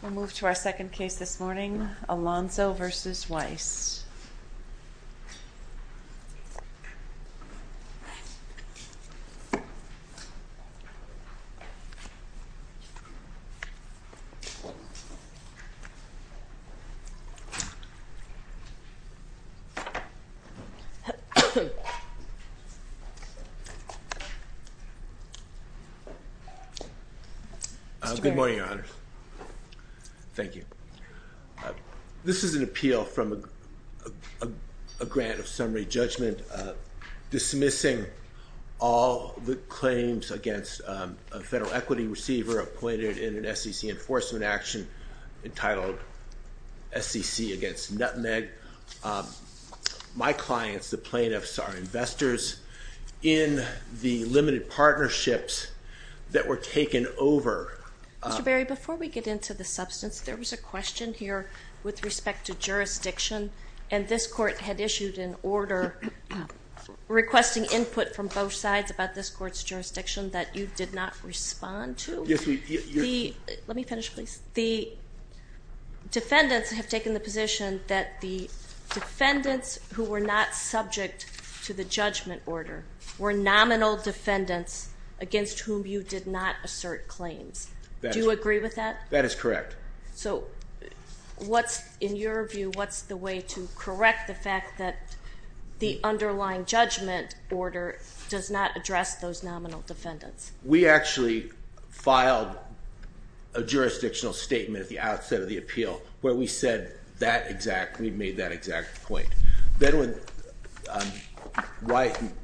We'll move to our second case this morning, Alonso v. Weiss. Good morning, Your Honors. Thank you. This is an appeal from a grant of summary judgment dismissing all the claims against a federal equity receiver appointed in an SEC enforcement action entitled SEC against Nutmeg. My clients, the plaintiffs, are investors in the limited partnerships that were taken over. Mr. Berry, before we get into the question here with respect to jurisdiction, and this court had issued an order requesting input from both sides about this court's jurisdiction that you did not respond to. Let me finish, please. The defendants have taken the position that the defendants who were not subject to the judgment order were nominal defendants against whom you did not assert claims. Do you agree with that? That is correct. So what's, in your view, what's the way to correct the fact that the underlying judgment order does not address those nominal defendants? We actually filed a jurisdictional statement at the outset of the appeal where we said that exact, we made that exact point. Then when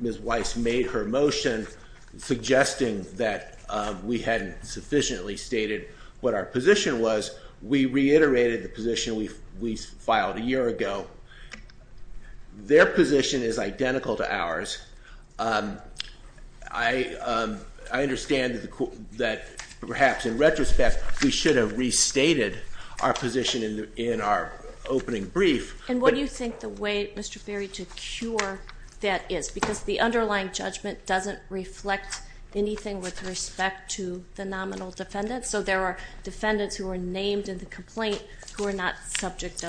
Ms. Weiss made her motion suggesting that we hadn't sufficiently stated what our position was, we reiterated the position we filed a year ago. Their position is identical to ours. I understand that perhaps in retrospect we should have restated our position in our opening brief. And what do you think the way, Mr. Berry, to cure that is? Because the underlying judgment doesn't reflect anything with respect to the nominal defendants, so there are defendants who are named in the complaint who are not subject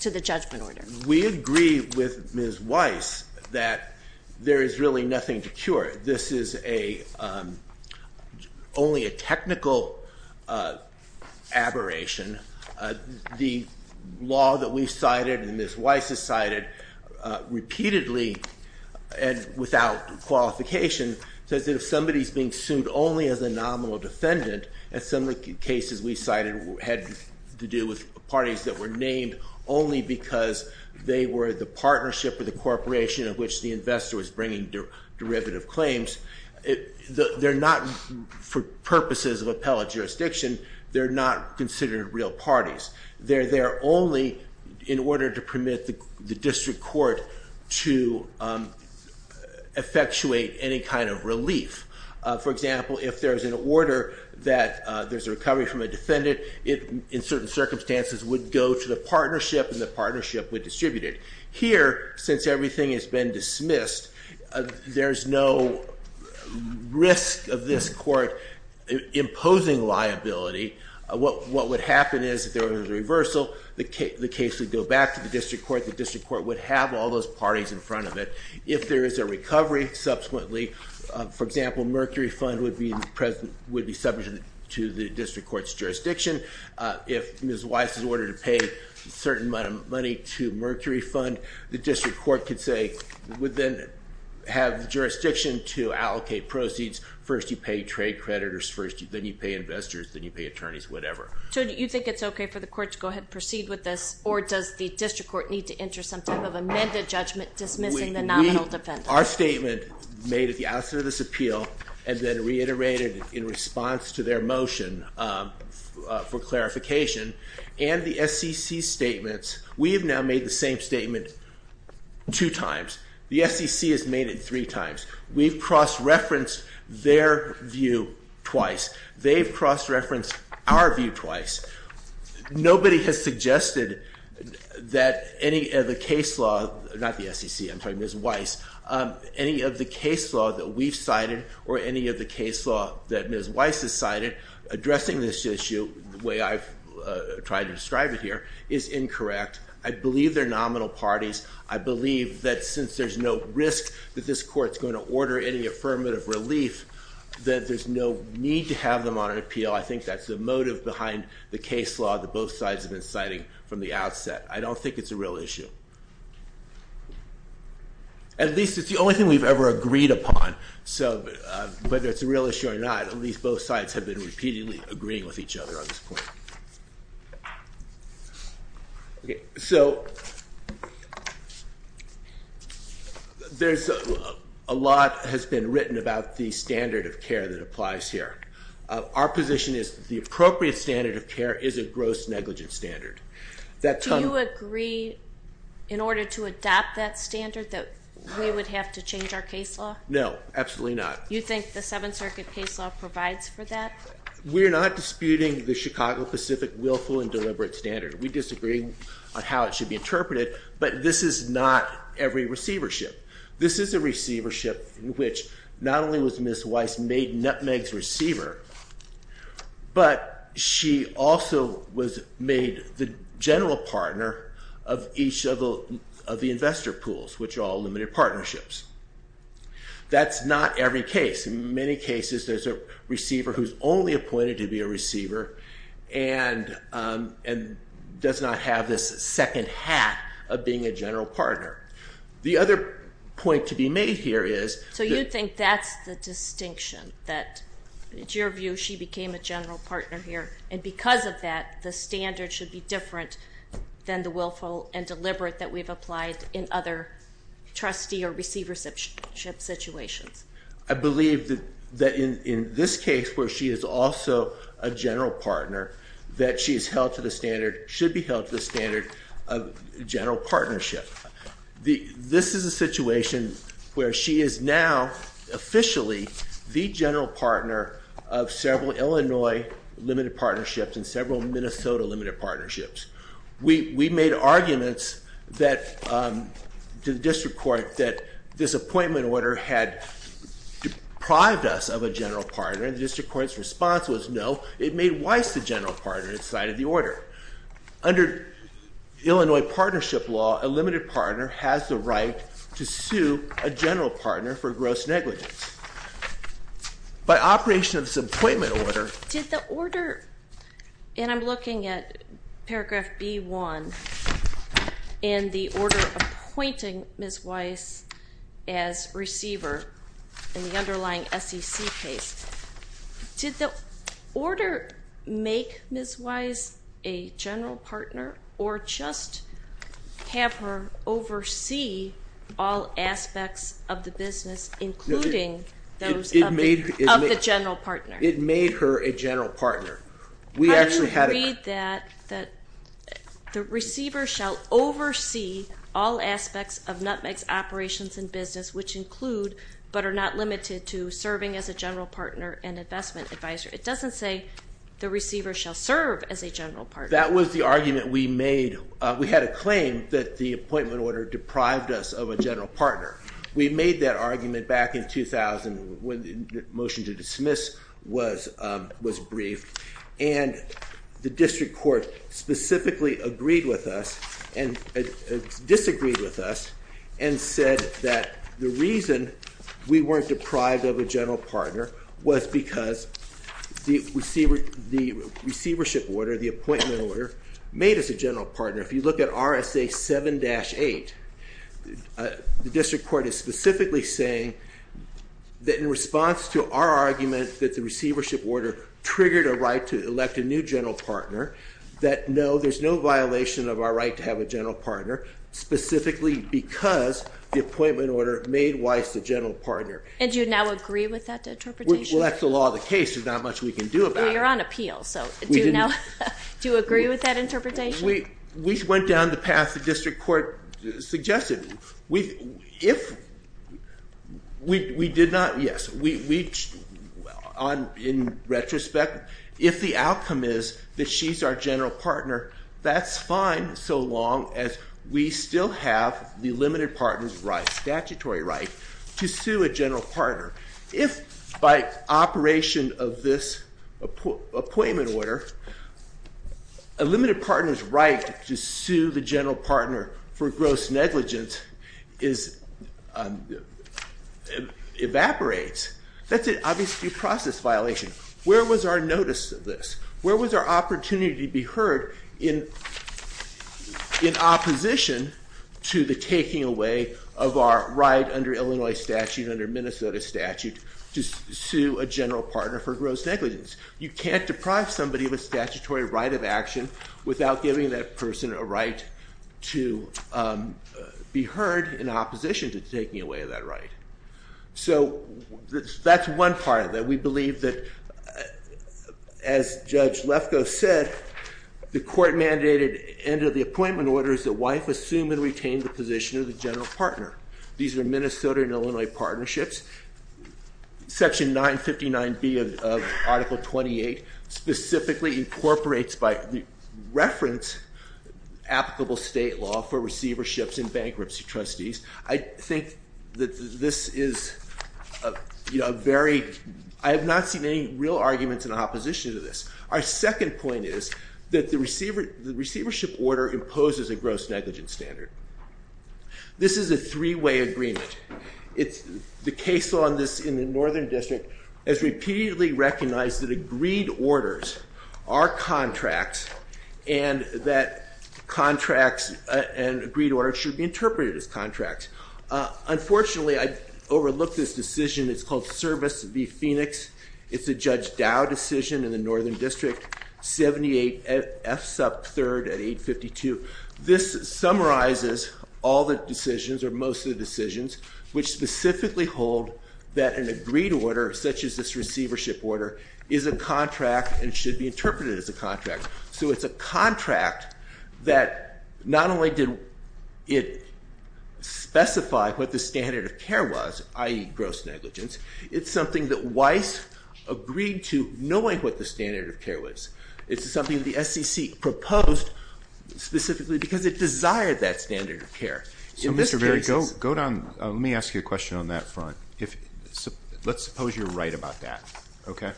to the judgment order. We agree with Ms. Weiss that there is really nothing to cure. This is only a technical aberration. The law that we cited and Ms. Weiss has cited repeatedly and without qualification says that if somebody's being sued only as a nominal defendant, as some of the cases we cited had to do with parties that were named only because they were the partnership of the corporation of which the investor was bringing derivative claims, they're not, for purposes of appellate jurisdiction, they're not considered real parties. They're there only in order to permit the district court to effectuate any kind of relief. For example, if there's an order that there's a recovery from a defendant, it in certain circumstances would go to the partnership and the partnership would distribute it. Here, since everything has been dismissed, there's no risk of this court imposing liability. What would happen is if there was a reversal, the case would go back to the district court, the district court would have all those parties in front of it. If there is a recovery, subsequently, for example, Mercury Fund would be present, would be subject to the district court's jurisdiction. If Ms. Weiss is ordered to pay a certain amount of money to Mercury Fund, the district court could say, would then have the jurisdiction to allocate proceeds. First you pay trade creditors, first then you pay investors, then you pay attorneys, whatever. So you think it's okay for the court to go ahead and proceed with this or does the district court need to enter some type of amended judgment dismissing the nominal defendant? Our statement made at the outset of this appeal and then reiterated in response to their motion for clarification and the SEC statements, we have now made the same statement two times. The SEC has made it three times. We've cross-referenced their view twice. They've cross-referenced our view twice. Nobody has suggested that any of the case law, not the SEC, I'm talking about Ms. Weiss, any of the case law that we've cited or any of the case law that Ms. Weiss has cited addressing this issue the way I've tried to describe it here is incorrect. I believe they're nominal parties. I believe that since there's no risk that this court's going to order any affirmative relief, that there's no need to have them on an appeal. I think that's the motive behind the case law that both sides have been citing from the outset. I don't think it's a real issue. At least it's the only thing we've ever agreed upon. So whether it's a real issue or not, at least both sides have been repeatedly agreeing with each other on this point. So there's a lot has been written about the standard of care that our position is the appropriate standard of care is a gross negligent standard. Do you agree in order to adopt that standard that we would have to change our case law? No, absolutely not. You think the Seventh Circuit case law provides for that? We're not disputing the Chicago Pacific willful and deliberate standard. We disagree on how it should be interpreted, but this is not every receivership. This is a receivership which not only was Ms. Weiss made Nutmeg's receiver, but she also was made the general partner of each of the investor pools, which are all limited partnerships. That's not every case. In many cases there's a receiver who's only appointed to be a receiver and does not have this second half of being a general partner. The other point to be that in your view she became a general partner here and because of that the standard should be different than the willful and deliberate that we've applied in other trustee or receivership situations. I believe that in this case where she is also a general partner that she is held to the standard, should be held to the standard of general partnership. This is a situation where she is now officially the general partner of several Illinois limited partnerships and several Minnesota limited partnerships. We made arguments to the district court that this appointment order had deprived us of a general partner and the district court's response was no. It made Weiss the general partner inside of the order. Under Illinois partnership law, a limited partner has the right to sue a general partner for gross negligence. By operation of this appointment order, did the order, and I'm looking at paragraph B1 and the order appointing Ms. Weiss as receiver in the underlying SEC case, did the order make Ms. Weiss a general partner or just have her oversee all aspects of the business including those of the general partner? It made her a general partner. We actually had a... How do you read that the receiver shall oversee all aspects of Nutmeg's operations and business which include but are not It doesn't say the receiver shall serve as a general partner. That was the argument we made. We had a claim that the appointment order deprived us of a general partner. We made that argument back in 2000 when the motion to dismiss was briefed and the district court specifically agreed with us and disagreed with us and said that the reason we weren't deprived of a general partner was because the receivership order, the appointment order, made us a general partner. If you look at RSA 7-8, the district court is specifically saying that in response to our argument that the receivership order triggered a right to elect a new general partner that no, there's no violation of our right to have a general partner specifically because the appointment order made Weiss a general partner. And Do you now agree with that interpretation? Well, that's the law of the case. There's not much we can do about it. You're on appeal, so do you agree with that interpretation? We went down the path the district court suggested. If we did not, yes, in retrospect, if the outcome is that she's our general partner, that's fine so long as we still have the limited partner's statutory right to sue a general partner. If by operation of this appointment order, a limited partner's right to sue the general partner for gross negligence evaporates, that's obviously a process violation. Where was our notice of this? Where was our opportunity to be heard in opposition to the taking away of our under Illinois statute, under Minnesota statute, to sue a general partner for gross negligence? You can't deprive somebody of a statutory right of action without giving that person a right to be heard in opposition to taking away of that right. So that's one part that we believe that, as Judge Lefkoe said, the court-mandated end of the appointment order is that wife assume and retain the general partner. These are Minnesota and Illinois partnerships. Section 959B of Article 28 specifically incorporates by reference applicable state law for receiverships and bankruptcy trustees. I think that this is a very, I have not seen any real arguments in opposition to this. Our second point is that the is a three-way agreement. The case on this in the Northern District has repeatedly recognized that agreed orders are contracts and that contracts and agreed orders should be interpreted as contracts. Unfortunately, I overlooked this decision. It's called Service v. Phoenix. It's a Judge Dow decision in the most of the decisions, which specifically hold that an agreed order, such as this receivership order, is a contract and should be interpreted as a contract. So it's a contract that not only did it specify what the standard of care was, i.e. gross negligence, it's something that Weiss agreed to knowing what the standard of care was. It's something the SEC proposed specifically because it Mr. Berry, go down. Let me ask you a question on that front. Let's suppose you're right about that, okay?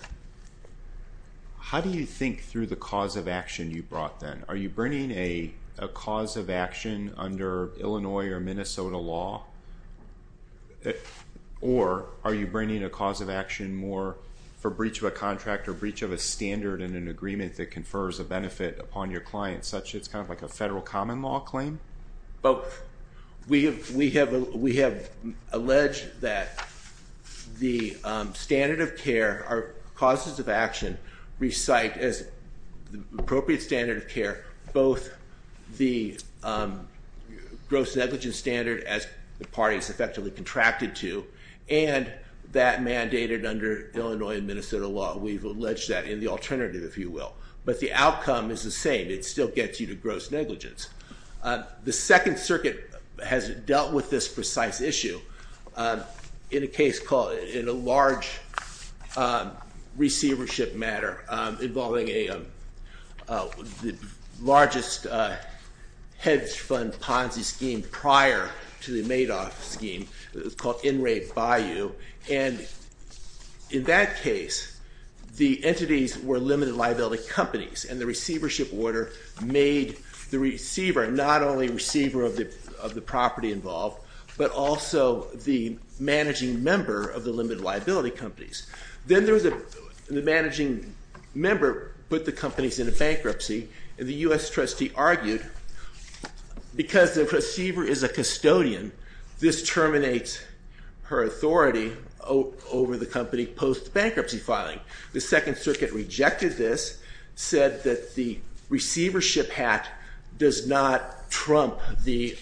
How do you think through the cause of action you brought then? Are you bringing a cause of action under Illinois or Minnesota law? Or are you bringing a cause of action more for breach of a contract or breach of a standard in an agreement that confers a benefit upon your client, such it's kind of like a federal common law claim? Both. We have alleged that the standard of care, our causes of action, recite as the appropriate standard of care both the gross negligence standard, as the parties effectively contracted to, and that mandated under Illinois and Minnesota law. We've alleged that in the alternative, if you will. But the outcome is the same. It still gets you to gross negligence. The Second Circuit has dealt with this precise issue in a case called, in a large receivership matter involving the largest hedge fund Ponzi scheme prior to the Madoff scheme. It's called In Re Buy You, and in that case the entities were limited liability companies, and the receivership order made the receiver not only receiver of the property involved, but also the managing member of the limited liability companies. Then the managing member put the companies into bankruptcy, and the U.S. trustee argued because the receiver is a custodian, this terminates her authority over the company post bankruptcy filing. The Second Circuit rejected this, said that the receivership hat does not trump the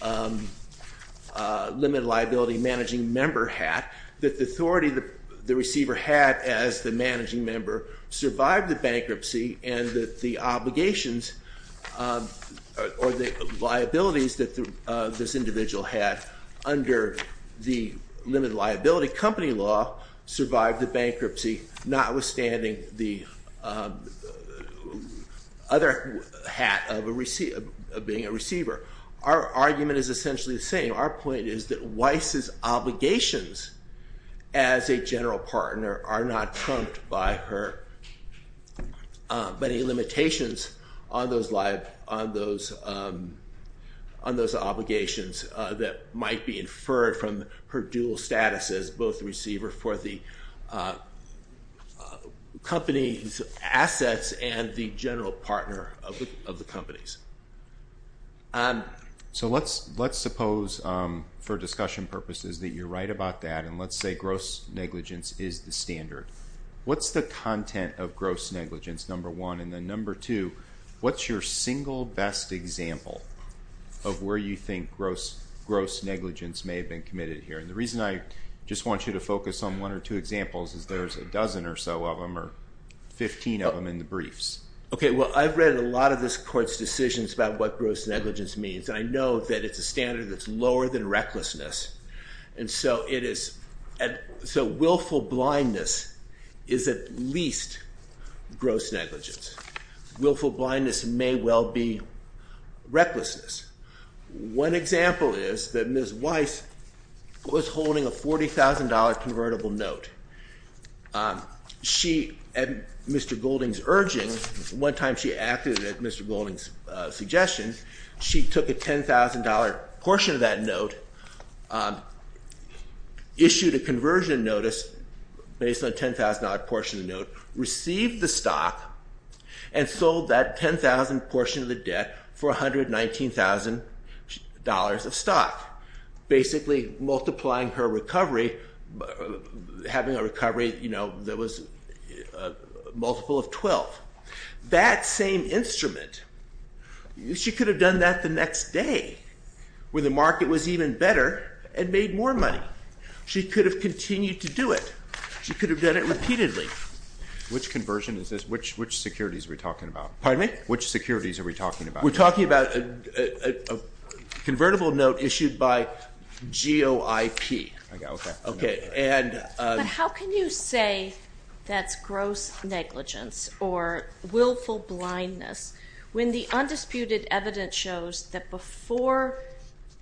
limited liability managing member hat, that the authority that the receiver had as the managing member survived the bankruptcy, and that the obligations or the liabilities that this individual had under the limited notwithstanding the other hat of being a receiver. Our argument is essentially the same. Our point is that Weiss's obligations as a general partner are not trumped by her limitations on those obligations that might be inferred from her dual status as both the receiver for the company's assets and the general partner of the companies. So let's suppose for discussion purposes that you're right about that, and let's say gross negligence is the standard. What's the content of gross negligence, number one? And then number two, what's your single best example of where you think gross negligence may have been committed here? And the reason I just want you to focus on one or two examples is there's a dozen or so of them, or 15 of them in the briefs. Okay, well I've read a lot of this court's decisions about what gross negligence means. I know that it's a standard that's lower than recklessness, and so willful blindness is at least gross negligence. Willful blindness may well be recklessness. One example is that Ms. Golding took a $10,000 convertible note. She, at Mr. Golding's urging, one time she acted at Mr. Golding's suggestions, she took a $10,000 portion of that note, issued a conversion notice based on a $10,000 portion of the note, received the stock, and sold that $10,000 portion of the debt for $119,000 of stock, basically multiplying her recovery, having a recovery, you know, that was a multiple of 12. That same instrument, she could have done that the next day, where the market was even better and made more money. She could have continued to do it. She could have done it repeatedly. Which conversion is this? Which securities are we talking about? Pardon me? Which securities are we talking about? We're talking about NOIP. Okay. How can you say that's gross negligence or willful blindness when the undisputed evidence shows that before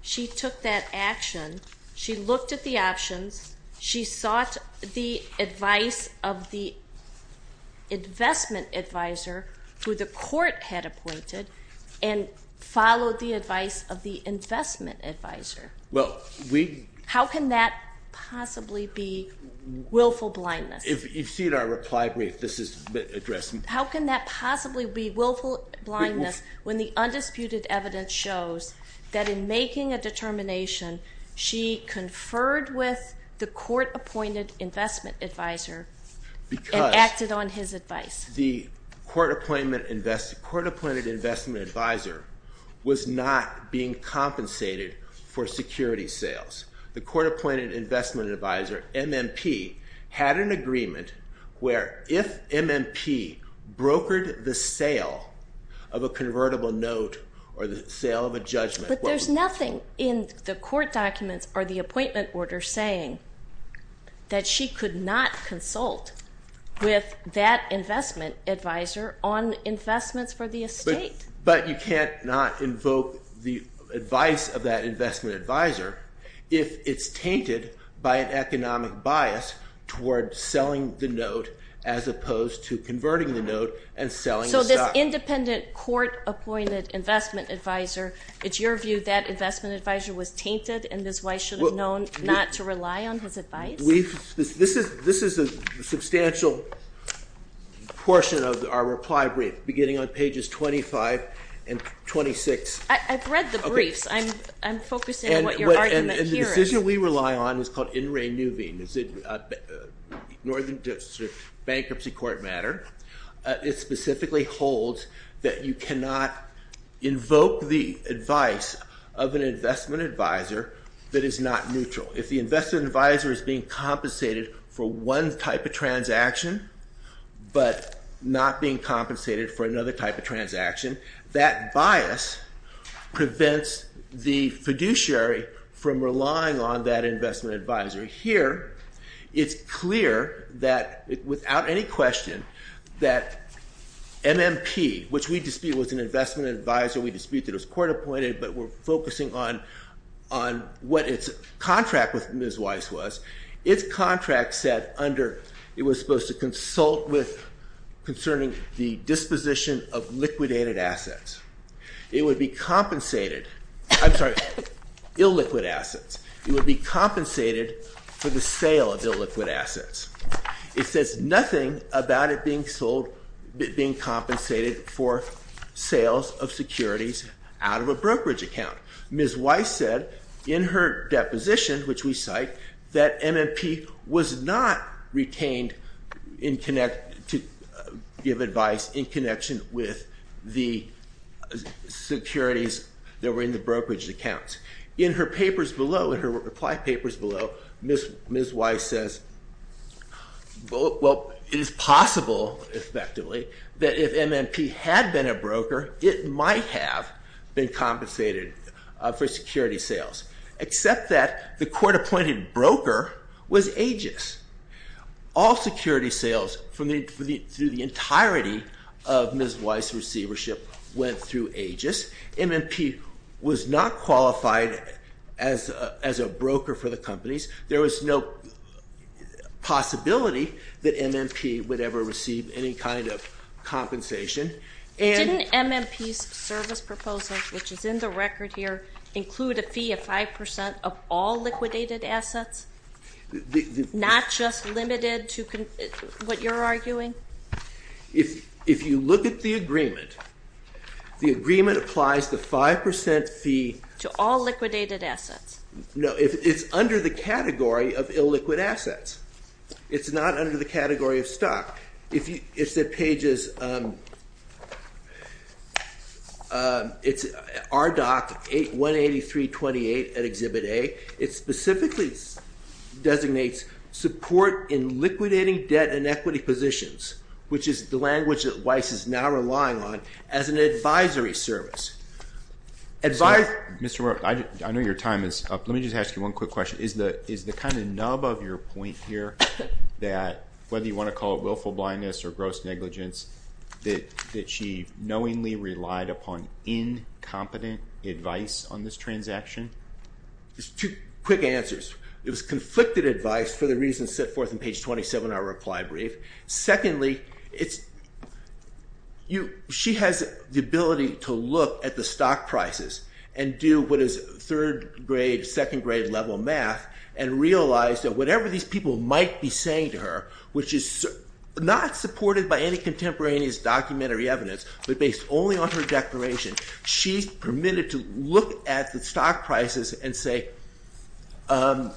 she took that action, she looked at the options, she sought the advice of the investment advisor, who the court had appointed, and followed the advice of the investment advisor? Well, we How can that possibly be willful blindness? If you've seen our reply brief, this is addressing... How can that possibly be willful blindness when the undisputed evidence shows that in making a determination, she conferred with the court-appointed investment advisor and acted on his advice? Because the court-appointed investment advisor was not being compensated for security sales. The court-appointed investment advisor, MMP, had an agreement where if MMP brokered the sale of a convertible note or the sale of a judgment... But there's nothing in the court documents or the appointment order saying that she could not consult with that investment advisor on investments for the estate. But you can't not invoke the advice of that investment advisor if it's tainted by an economic bias toward selling the note as opposed to converting the note and selling the stock. So this independent court-appointed investment advisor, it's your view that investment advisor was tainted and this wife should have known not to rely on his advice? This is a substantial portion of our reply brief beginning on pages 25 and 26. I've read the briefs. I'm focusing on what your argument here is. And the decision we rely on is called In Re Nuvine. It's a Northern District Bankruptcy Court matter. It specifically holds that you cannot invoke the advice of an investment advisor that is not neutral. If the investment advisor is being compensated for another type of transaction, that bias prevents the fiduciary from relying on that investment advisor. Here it's clear that without any question that MMP, which we dispute was an investment advisor, we dispute that it was court-appointed, but we're focusing on what its contract with Ms. Weiss was. Its contract said under it was supposed to consult with concerning the disposition of liquidated assets. It would be compensated, I'm sorry, illiquid assets. It would be compensated for the sale of illiquid assets. It says nothing about it being sold, being compensated for sales of securities out of a brokerage account. Ms. Weiss said in her deposition, which we cite, that MMP was not retained to give advice in connection with the securities that were in the brokerage accounts. In her papers below, in her reply papers below, Ms. Weiss says, well it is possible, effectively, that if MMP had been a broker, it might have been compensated for security sales, except that the MMP was not qualified as a broker for the companies. There was no possibility that MMP would ever receive any kind of compensation. Didn't MMP's service proposal, which is in the record here, include a fee of 5% of all liquidated assets? Not just limited to what you're arguing? If you look at the agreement, the agreement applies the 5% fee to all liquidated assets. No, it's under the category of illiquid assets. It's not under the category of stock. If Ms. Weiss designates support in liquidating debt and equity positions, which is the language that Weiss is now relying on, as an advisory service. Mr. Rowe, I know your time is up. Let me just ask you one quick question. Is the kind of nub of your point here that, whether you want to call it willful blindness or gross negligence, that she knowingly relied upon incompetent advice on this transaction? Two quick answers. It was conflicted advice for the reason set forth in page 27 of our reply brief. Secondly, she has the ability to look at the stock prices and do what is third grade, second grade level math and realize that whatever these people might be saying to her, which is not supported by any contemporaneous documentary evidence, but she's permitted to look at the stock prices and say,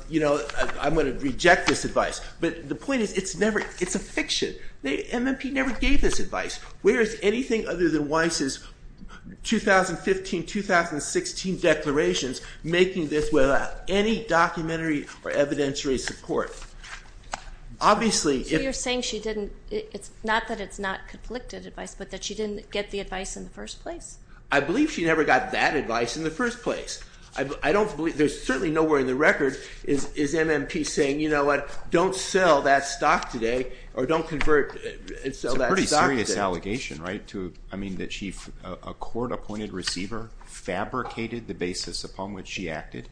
you know, I'm going to reject this advice. But the point is, it's never, it's a fiction. The MMP never gave this advice. Where is anything other than Weiss's 2015-2016 declarations making this without any documentary or evidentiary support? Obviously, you're saying she didn't, it's not that it's not conflicted advice, but that she didn't get the advice in the first place. I believe she never got that advice in the first place. I don't believe, there's certainly nowhere in the record is MMP saying, you know what, don't sell that stock today or don't convert and sell that stock today. It's a pretty serious allegation, right, to, I mean, that she, a court-appointed receiver fabricated the basis upon which she acted?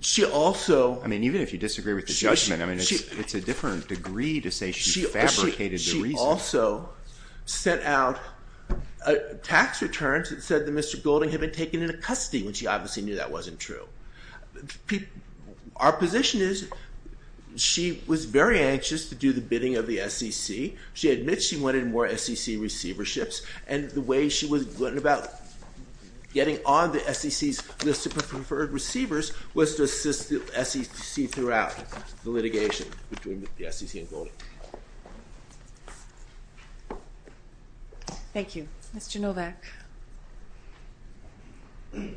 She also, I mean, even if you disagree with the judgment, I mean, it's a different degree to say she fabricated the reason. She also sent out tax returns that said that Mr. Golding had been taken into custody when she obviously knew that wasn't true. Our position is, she was very anxious to do the bidding of the SEC. She admits she wanted more SEC receiverships, and the way she was going about getting on the SEC's list of preferred receivers was to assist the SEC throughout the SEC and Golding. Thank you. Mr. Novak. Good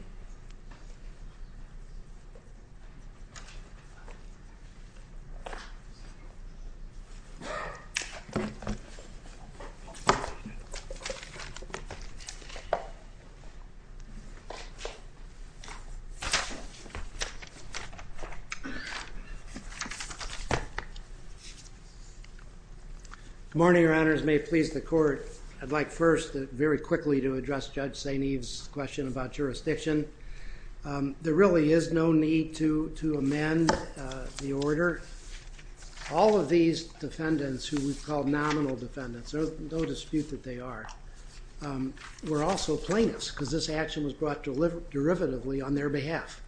morning, Your Honors. May it please the Court. I'd like first, very quickly, to address Judge St. Eve's question about jurisdiction. There really is no need to amend the order. All of these defendants, who we've called nominal defendants, there's no dispute that they are, were also plaintiffs because this action was brought derivatively on their behalf.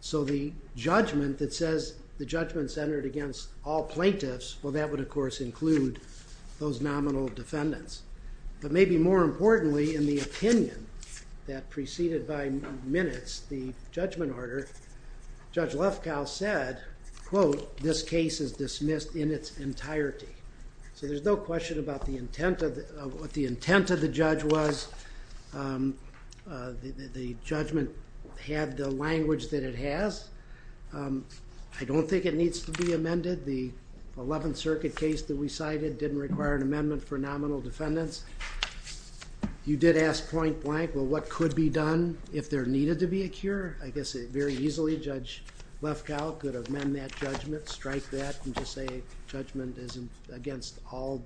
So the judgment that says the judgment centered against all plaintiffs, well, that would, of course, include those nominal defendants. But maybe more importantly, in the opinion that preceded by minutes the judgment order, Judge Lefkow said, quote, this case is dismissed in its entirety. So there's no question about the intent of, what the intent of the judge was. The judgment had the language that it has. I don't think it needs to be amended. The 11th Circuit case that we cited didn't require an amendment for nominal defendants. You did ask point-blank, well, what could be done if there needed to be a cure? I guess very easily Judge Lefkow could amend that judgment, strike that, and just say judgment is against all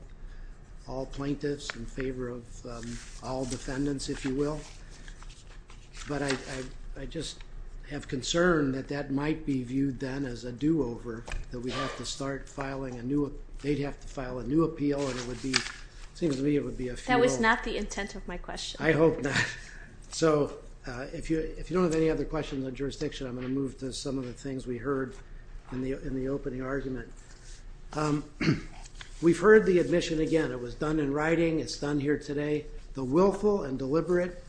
plaintiffs in favor of all defendants. I just have concern that that might be viewed then as a do-over, that we have to start filing a new, they'd have to file a new appeal, and it would be, seems to me, it would be a fuel. That was not the intent of my question. I hope not. So if you, if you don't have any other questions on jurisdiction, I'm going to move to some of the things we heard in the, in the opening argument. We've heard the admission again. It was done in writing. It's done here today. The willful and deliberate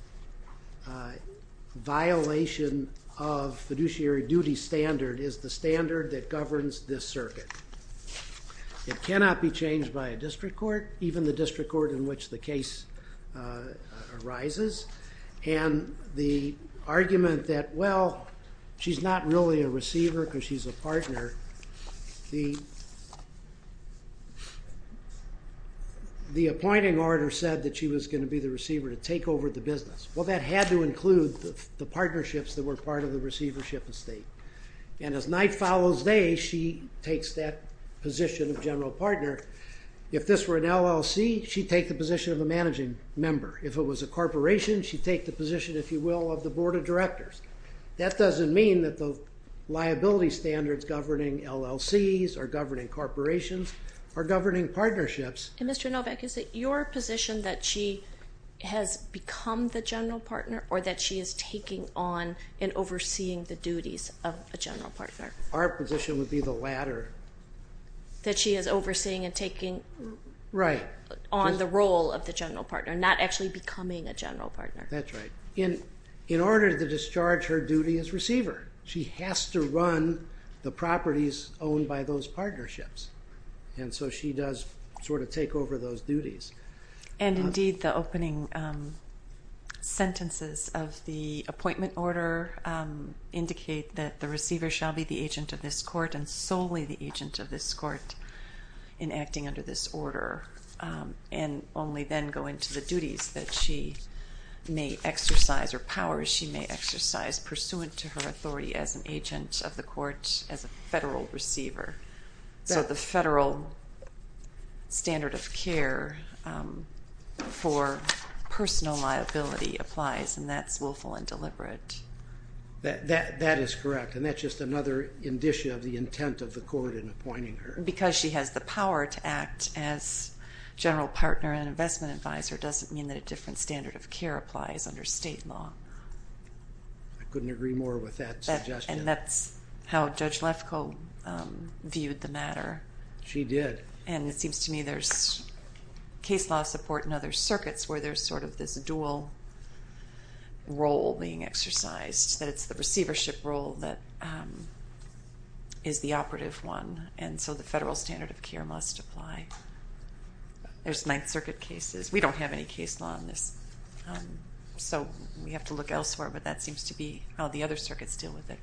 violation of fiduciary duty standard is the standard that governs this circuit. It cannot be changed by a district court, even the district court in which the case arises, and the argument that, well, she's not really a receiver because she's a partner. The, the appointing order said that she was going to be the receiver to take over the business. Well, that had to include the partnerships that were part of the receivership estate, and as night follows day, she takes that position of general partner. If this were an LLC, she'd take the position of a managing member. If it was a corporation, she'd take the position, if you will, of the board of directors. That doesn't mean that the liability standards governing LLCs, or governing corporations, or governing partnerships... And Mr. Novak, is it your position that she has become the general partner, or that she is taking on and overseeing the duties of a general partner? Our position would be the latter. That she is overseeing and taking... Right. On the role of the general partner, not actually becoming a general partner. That's right. In, in order to discharge her duty as receiver, she has to run the sort of take over those duties. And indeed, the opening sentences of the appointment order indicate that the receiver shall be the agent of this court, and solely the agent of this court, in acting under this order, and only then go into the duties that she may exercise, or powers she may exercise, pursuant to her authority as an agent of the court, as a federal receiver. So, the federal standard of care for personal liability applies, and that's willful and deliberate. That is correct, and that's just another indicia of the intent of the court in appointing her. Because she has the power to act as general partner and investment advisor doesn't mean that a different standard of care applies under state law. I couldn't agree more with that suggestion. And that's how Judge Lefkoe viewed the matter. She did. And it seems to me there's case law support in other circuits where there's sort of this dual role being exercised, that it's the receivership role that is the operative one, and so the federal standard of care must apply. There's Ninth Circuit cases. We don't have any case law on this, so we have to look elsewhere, but that seems to be how the other circuits deal with it.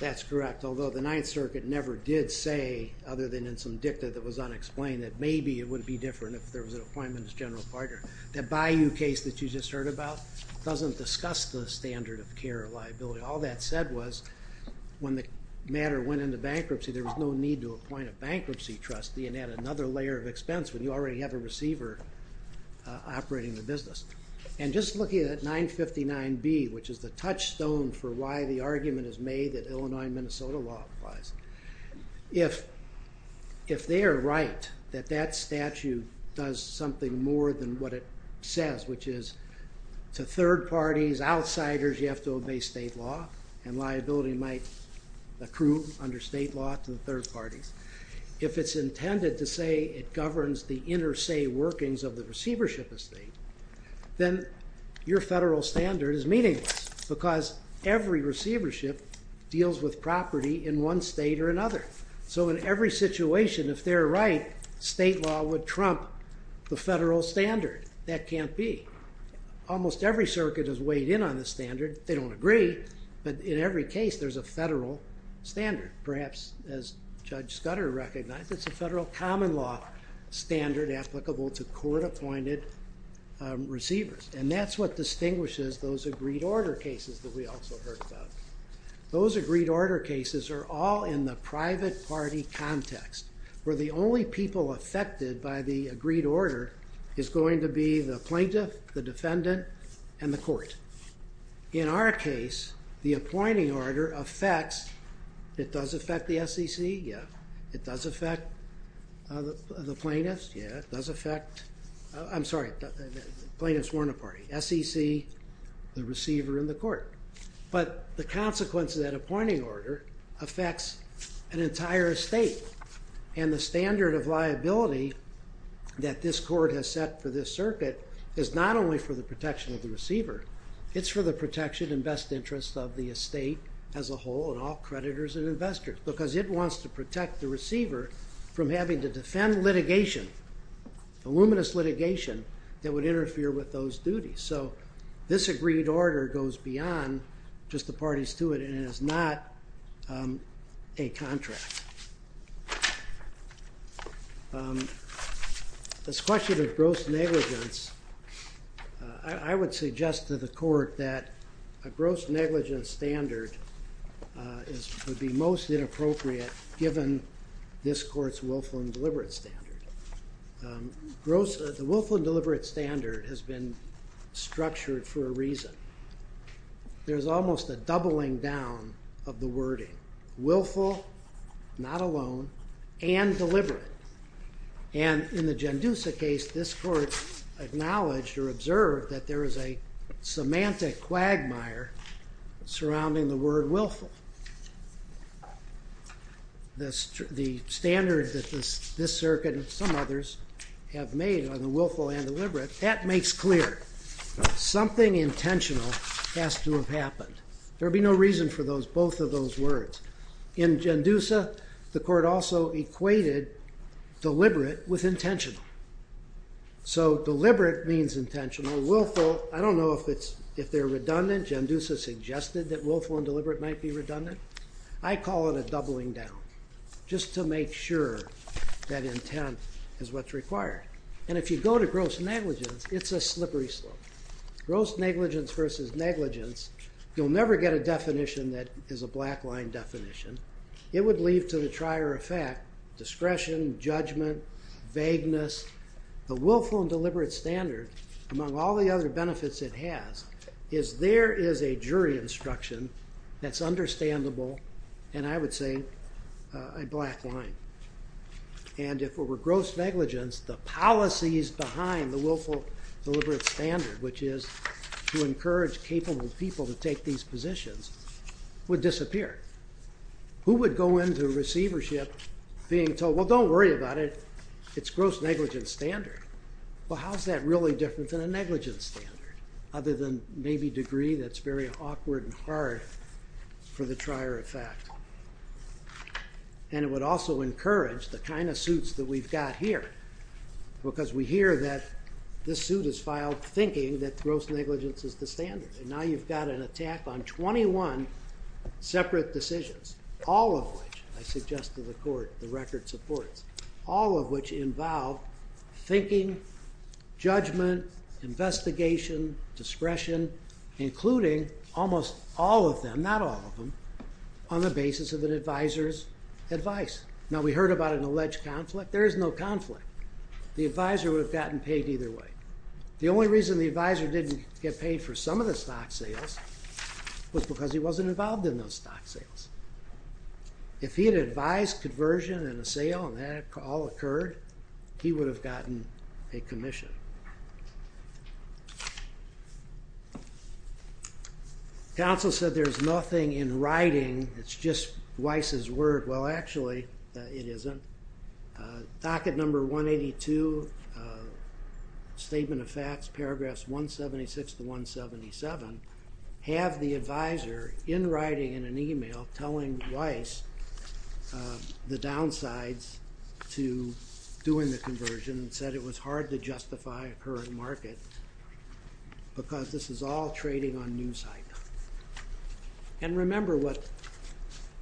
That's correct, although the Ninth Circuit never did say, other than in some dicta that was unexplained, that maybe it would be different if there was an appointment as general partner. The Bayou case that you just heard about doesn't discuss the standard of care or liability. All that said was, when the matter went into bankruptcy, there was no need to appoint a bankruptcy trustee and add another layer of expense when you already have a receiver operating the business. And just looking at 959B, which is the touchstone for why the argument is made that Illinois and Minnesota law applies, if they are right that that statute does something more than what it says, which is to third parties, outsiders, you have to obey state law, and liability might accrue under state law to the third parties. If it's intended to say it governs the inter se workings of the receivership estate, then your federal standard is meaningless because every receivership deals with property in one state or another. So in every situation, if they're right, state law would trump the federal standard. That can't be. Almost every circuit has weighed in on the standard. They don't agree, but in every case there's a federal standard. Perhaps, as Judge Scudder recognized, it's a federal common law standard applicable to court appointed receivers. And that's what distinguishes those agreed order cases that we also heard about. Those agreed order cases are all in the private party context, where the only people affected by the agreed order is going to be the plaintiff, the defendant, and the court. In our case, the appointing order affects, it does affect the SEC? Yeah. It does affect the plaintiff? Yeah. It does affect, I'm sorry, plaintiffs weren't a party. SEC, the receiver, and the court. But the consequence of that appointing order affects an entire estate, and the standard of liability that this court has set for this circuit is not only for the protection of the receiver, it's for the protection and best interests of the estate as a whole, and all creditors and investors, because it wants to protect the receiver from having to defend litigation, voluminous litigation, that would interfere with those duties. So, this agreed order goes beyond just the parties to it, and it is not a contract. This question of gross negligence, I would suggest to the court that a gross negligence standard would be most inappropriate given this court's willful and deliberate standard. The willful and deliberate standard has been structured for a reason. There's almost a doubling down of the wording. Willful, not alone, and deliberate. And in the Gendusa case, this court acknowledged or observed that there is a semantic quagmire surrounding the word willful. The standard that this circuit and some others have made on the willful and deliberate, something intentional has to have happened. There'd be no reason for those, both of those words. In Gendusa, the court also equated deliberate with intentional. So, deliberate means intentional. Willful, I don't know if it's, if they're redundant. Gendusa suggested that willful and deliberate might be redundant. I call it a doubling down, just to make sure that intent is what's required. And if you go to gross negligence, it's a slippery slope. Gross negligence versus negligence, you'll never get a definition that is a black line definition. It would leave to the trier of fact, discretion, judgment, vagueness. The willful and deliberate standard, among all the other benefits it has, is there is a jury instruction that's understandable, and I would say a black line. And if it were gross negligence, the policies behind the which is to encourage capable people to take these positions would disappear. Who would go into receivership being told, well, don't worry about it, it's gross negligence standard. Well, how's that really different than a negligence standard, other than maybe degree that's very awkward and hard for the trier of fact. And it would also encourage the kind of suits that we've got here, because we hear that this suit is filed thinking that gross negligence is the standard. And now you've got an attack on 21 separate decisions, all of which, I suggest to the court, the record supports, all of which involve thinking, judgment, investigation, discretion, including almost all of them, not all of them, on the basis of an advisor's advice. Now, we heard about an alleged conflict. There is no conflict. The advisor would have gotten paid either way. The only reason the advisor didn't get paid for some of the stock sales was because he wasn't involved in those stock sales. If he had advised conversion and a sale and that all occurred, he would have gotten a commission. Counsel said there's nothing in writing, it's just Weiss's word. Well, actually, it isn't. Docket number 182, statement of facts, paragraphs 176 to 177, have the advisor, in writing, in an email, telling Weiss the downsides to doing the conversion and said it was hard to justify a current market because this is all trading on news hype. And remember what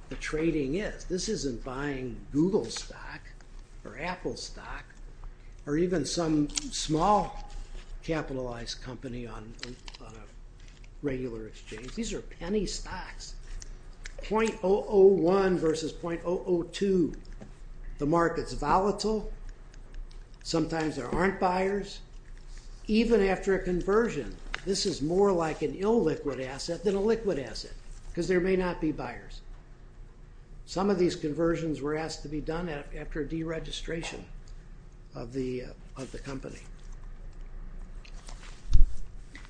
the trading is. This isn't buying Google stock or Apple stock or even some small capitalized company on a regular exchange. These are penny stocks. 0.001 versus 0.002. The market's volatile. Sometimes there aren't buyers. Even after a conversion, this is more like an illiquid asset than a liquid asset because there may not be buyers. Some of these conversions were asked to be done after deregistration of the company.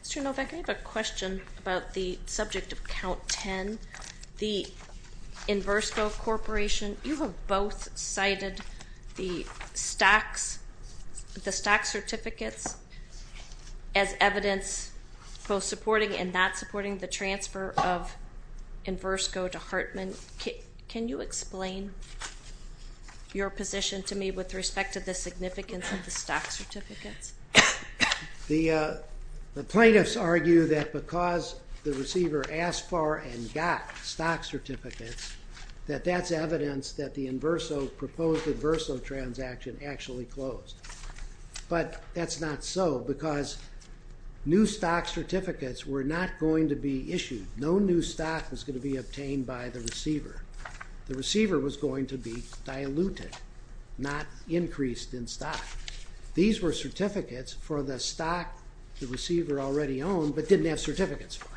Mr. Novak, I have a question about the subject of count 10. The Inversco Corporation, you have both cited the stocks, the stock certificates, as evidence both supporting and not supporting the transfer of Inversco to Hartman. Can you explain your position to me with respect to the significance of the stock certificates? The plaintiffs argue that because the receiver asked for and got stock certificates, that that's evidence that the Inverso, proposed Inverso transaction, actually closed. But that's not so because new stock certificates were not going to be issued. No new stock was going to be issued by the receiver. The receiver was going to be diluted, not increased in stock. These were certificates for the stock the receiver already owned but didn't have certificates for.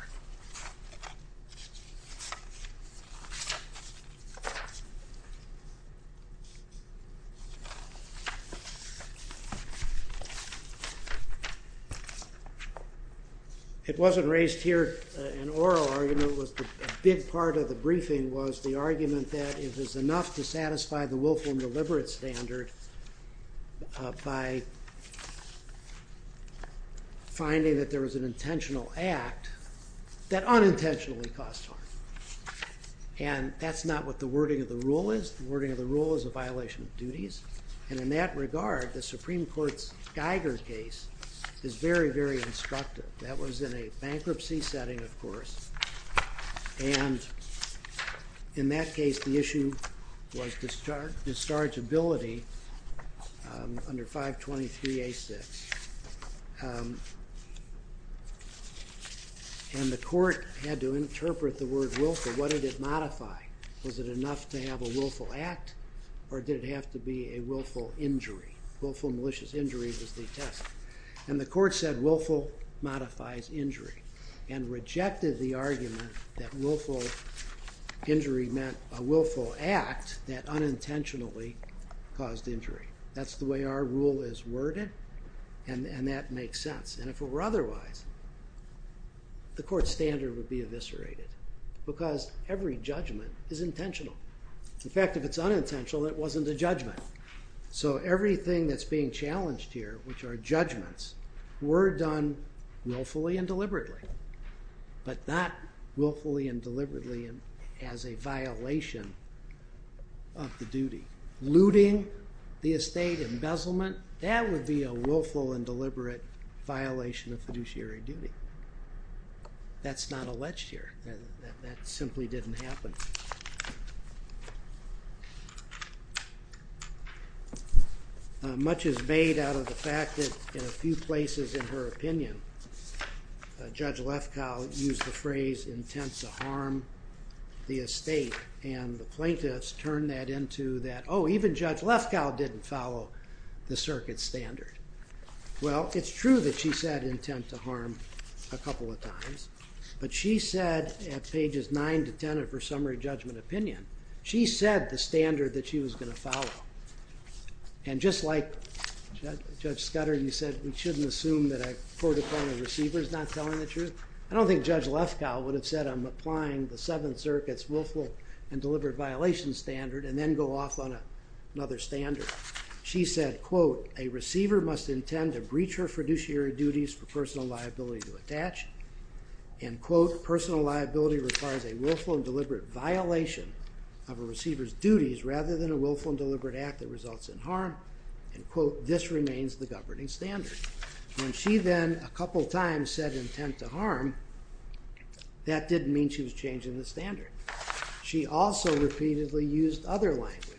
It wasn't raised here. An oral argument was a big part of the briefing was the argument that it is enough to satisfy the Wilhelm Deliberate Standard by finding that there was an intentional act that unintentionally caused harm. And that's not what the wording of the rule is. The wording of the rule is a violation of duties. And in that regard, the Supreme Court's Geiger case is very very instructive. That was in a bankruptcy setting, of course, and in that case the issue was dischargeability under 523 A6. And the court had to look at what did it modify. Was it enough to have a willful act or did it have to be a willful injury? Willful malicious injury was the test. And the court said willful modifies injury and rejected the argument that willful injury meant a willful act that unintentionally caused injury. That's the way our rule is worded and that makes sense. And if it were otherwise, the fact that it's unintentional, it wasn't a judgment. So everything that's being challenged here, which are judgments, were done willfully and deliberately, but not willfully and deliberately as a violation of the duty. Looting, the estate embezzlement, that would be a willful and deliberate violation of the duty. That simply didn't happen. Much is made out of the fact that in a few places in her opinion, Judge Lefkow used the phrase intent to harm the estate and the plaintiffs turned that into that, oh, even Judge Lefkow didn't follow the circuit standard. Well, it's true that she said intent to harm a couple of times, but she said at pages 9 to 10 of her summary judgment opinion, she said the standard that she was going to follow. And just like Judge Scudder, you said we shouldn't assume that a court-appointed receiver is not telling the truth. I don't think Judge Lefkow would have said I'm applying the Seventh Circuit's willful and deliberate violation standard and then go off on another standard. She said, quote, a receiver must intend to breach her fiduciary duties for personal liability to attach, end quote, personal liability requires a willful and deliberate violation of a receiver's duties rather than a willful and deliberate act that results in harm, end quote, this remains the governing standard. When she then a couple times said intent to harm, that didn't mean she was changing the standard. She also repeatedly used other language.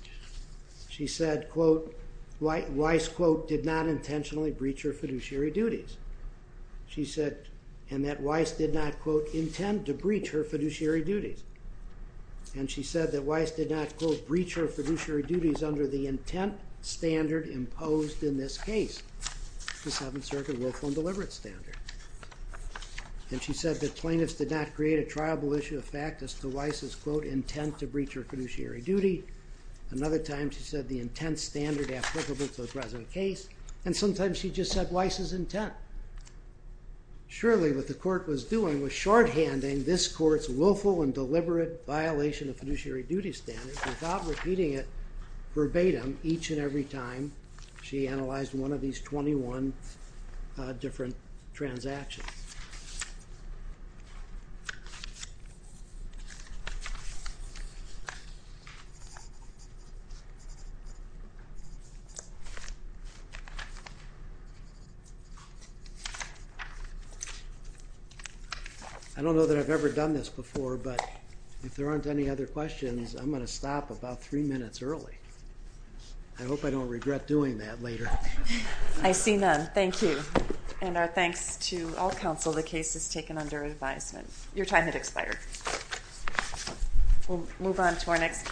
She said, quote, Weiss quote, did not intentionally breach her fiduciary duties. She said, and that Weiss did not quote, intend to breach her fiduciary duties. And she said that Weiss did not quote, breach her fiduciary duties under the intent standard imposed in this case, the Seventh Circuit willful and deliberate standard. And she said that plaintiffs did not create a triable issue of fact as to Weiss's quote, intent to breach her fiduciary duty. Another time she said the intent standard applicable to the present case. And sometimes she just said Weiss's intent. Surely what the court was doing was shorthanding this court's willful and deliberate violation of fiduciary duty standards without repeating it verbatim each and every time she analyzed one of these 21 different transactions. I don't know that I've ever done this before, but if there aren't any other questions, I'm going to stop about three minutes early. I hope I don't regret doing that later. I see none. Thank you. And our thanks to all counsel. The case is taken under advisement. Your time had expired. We'll move on to our next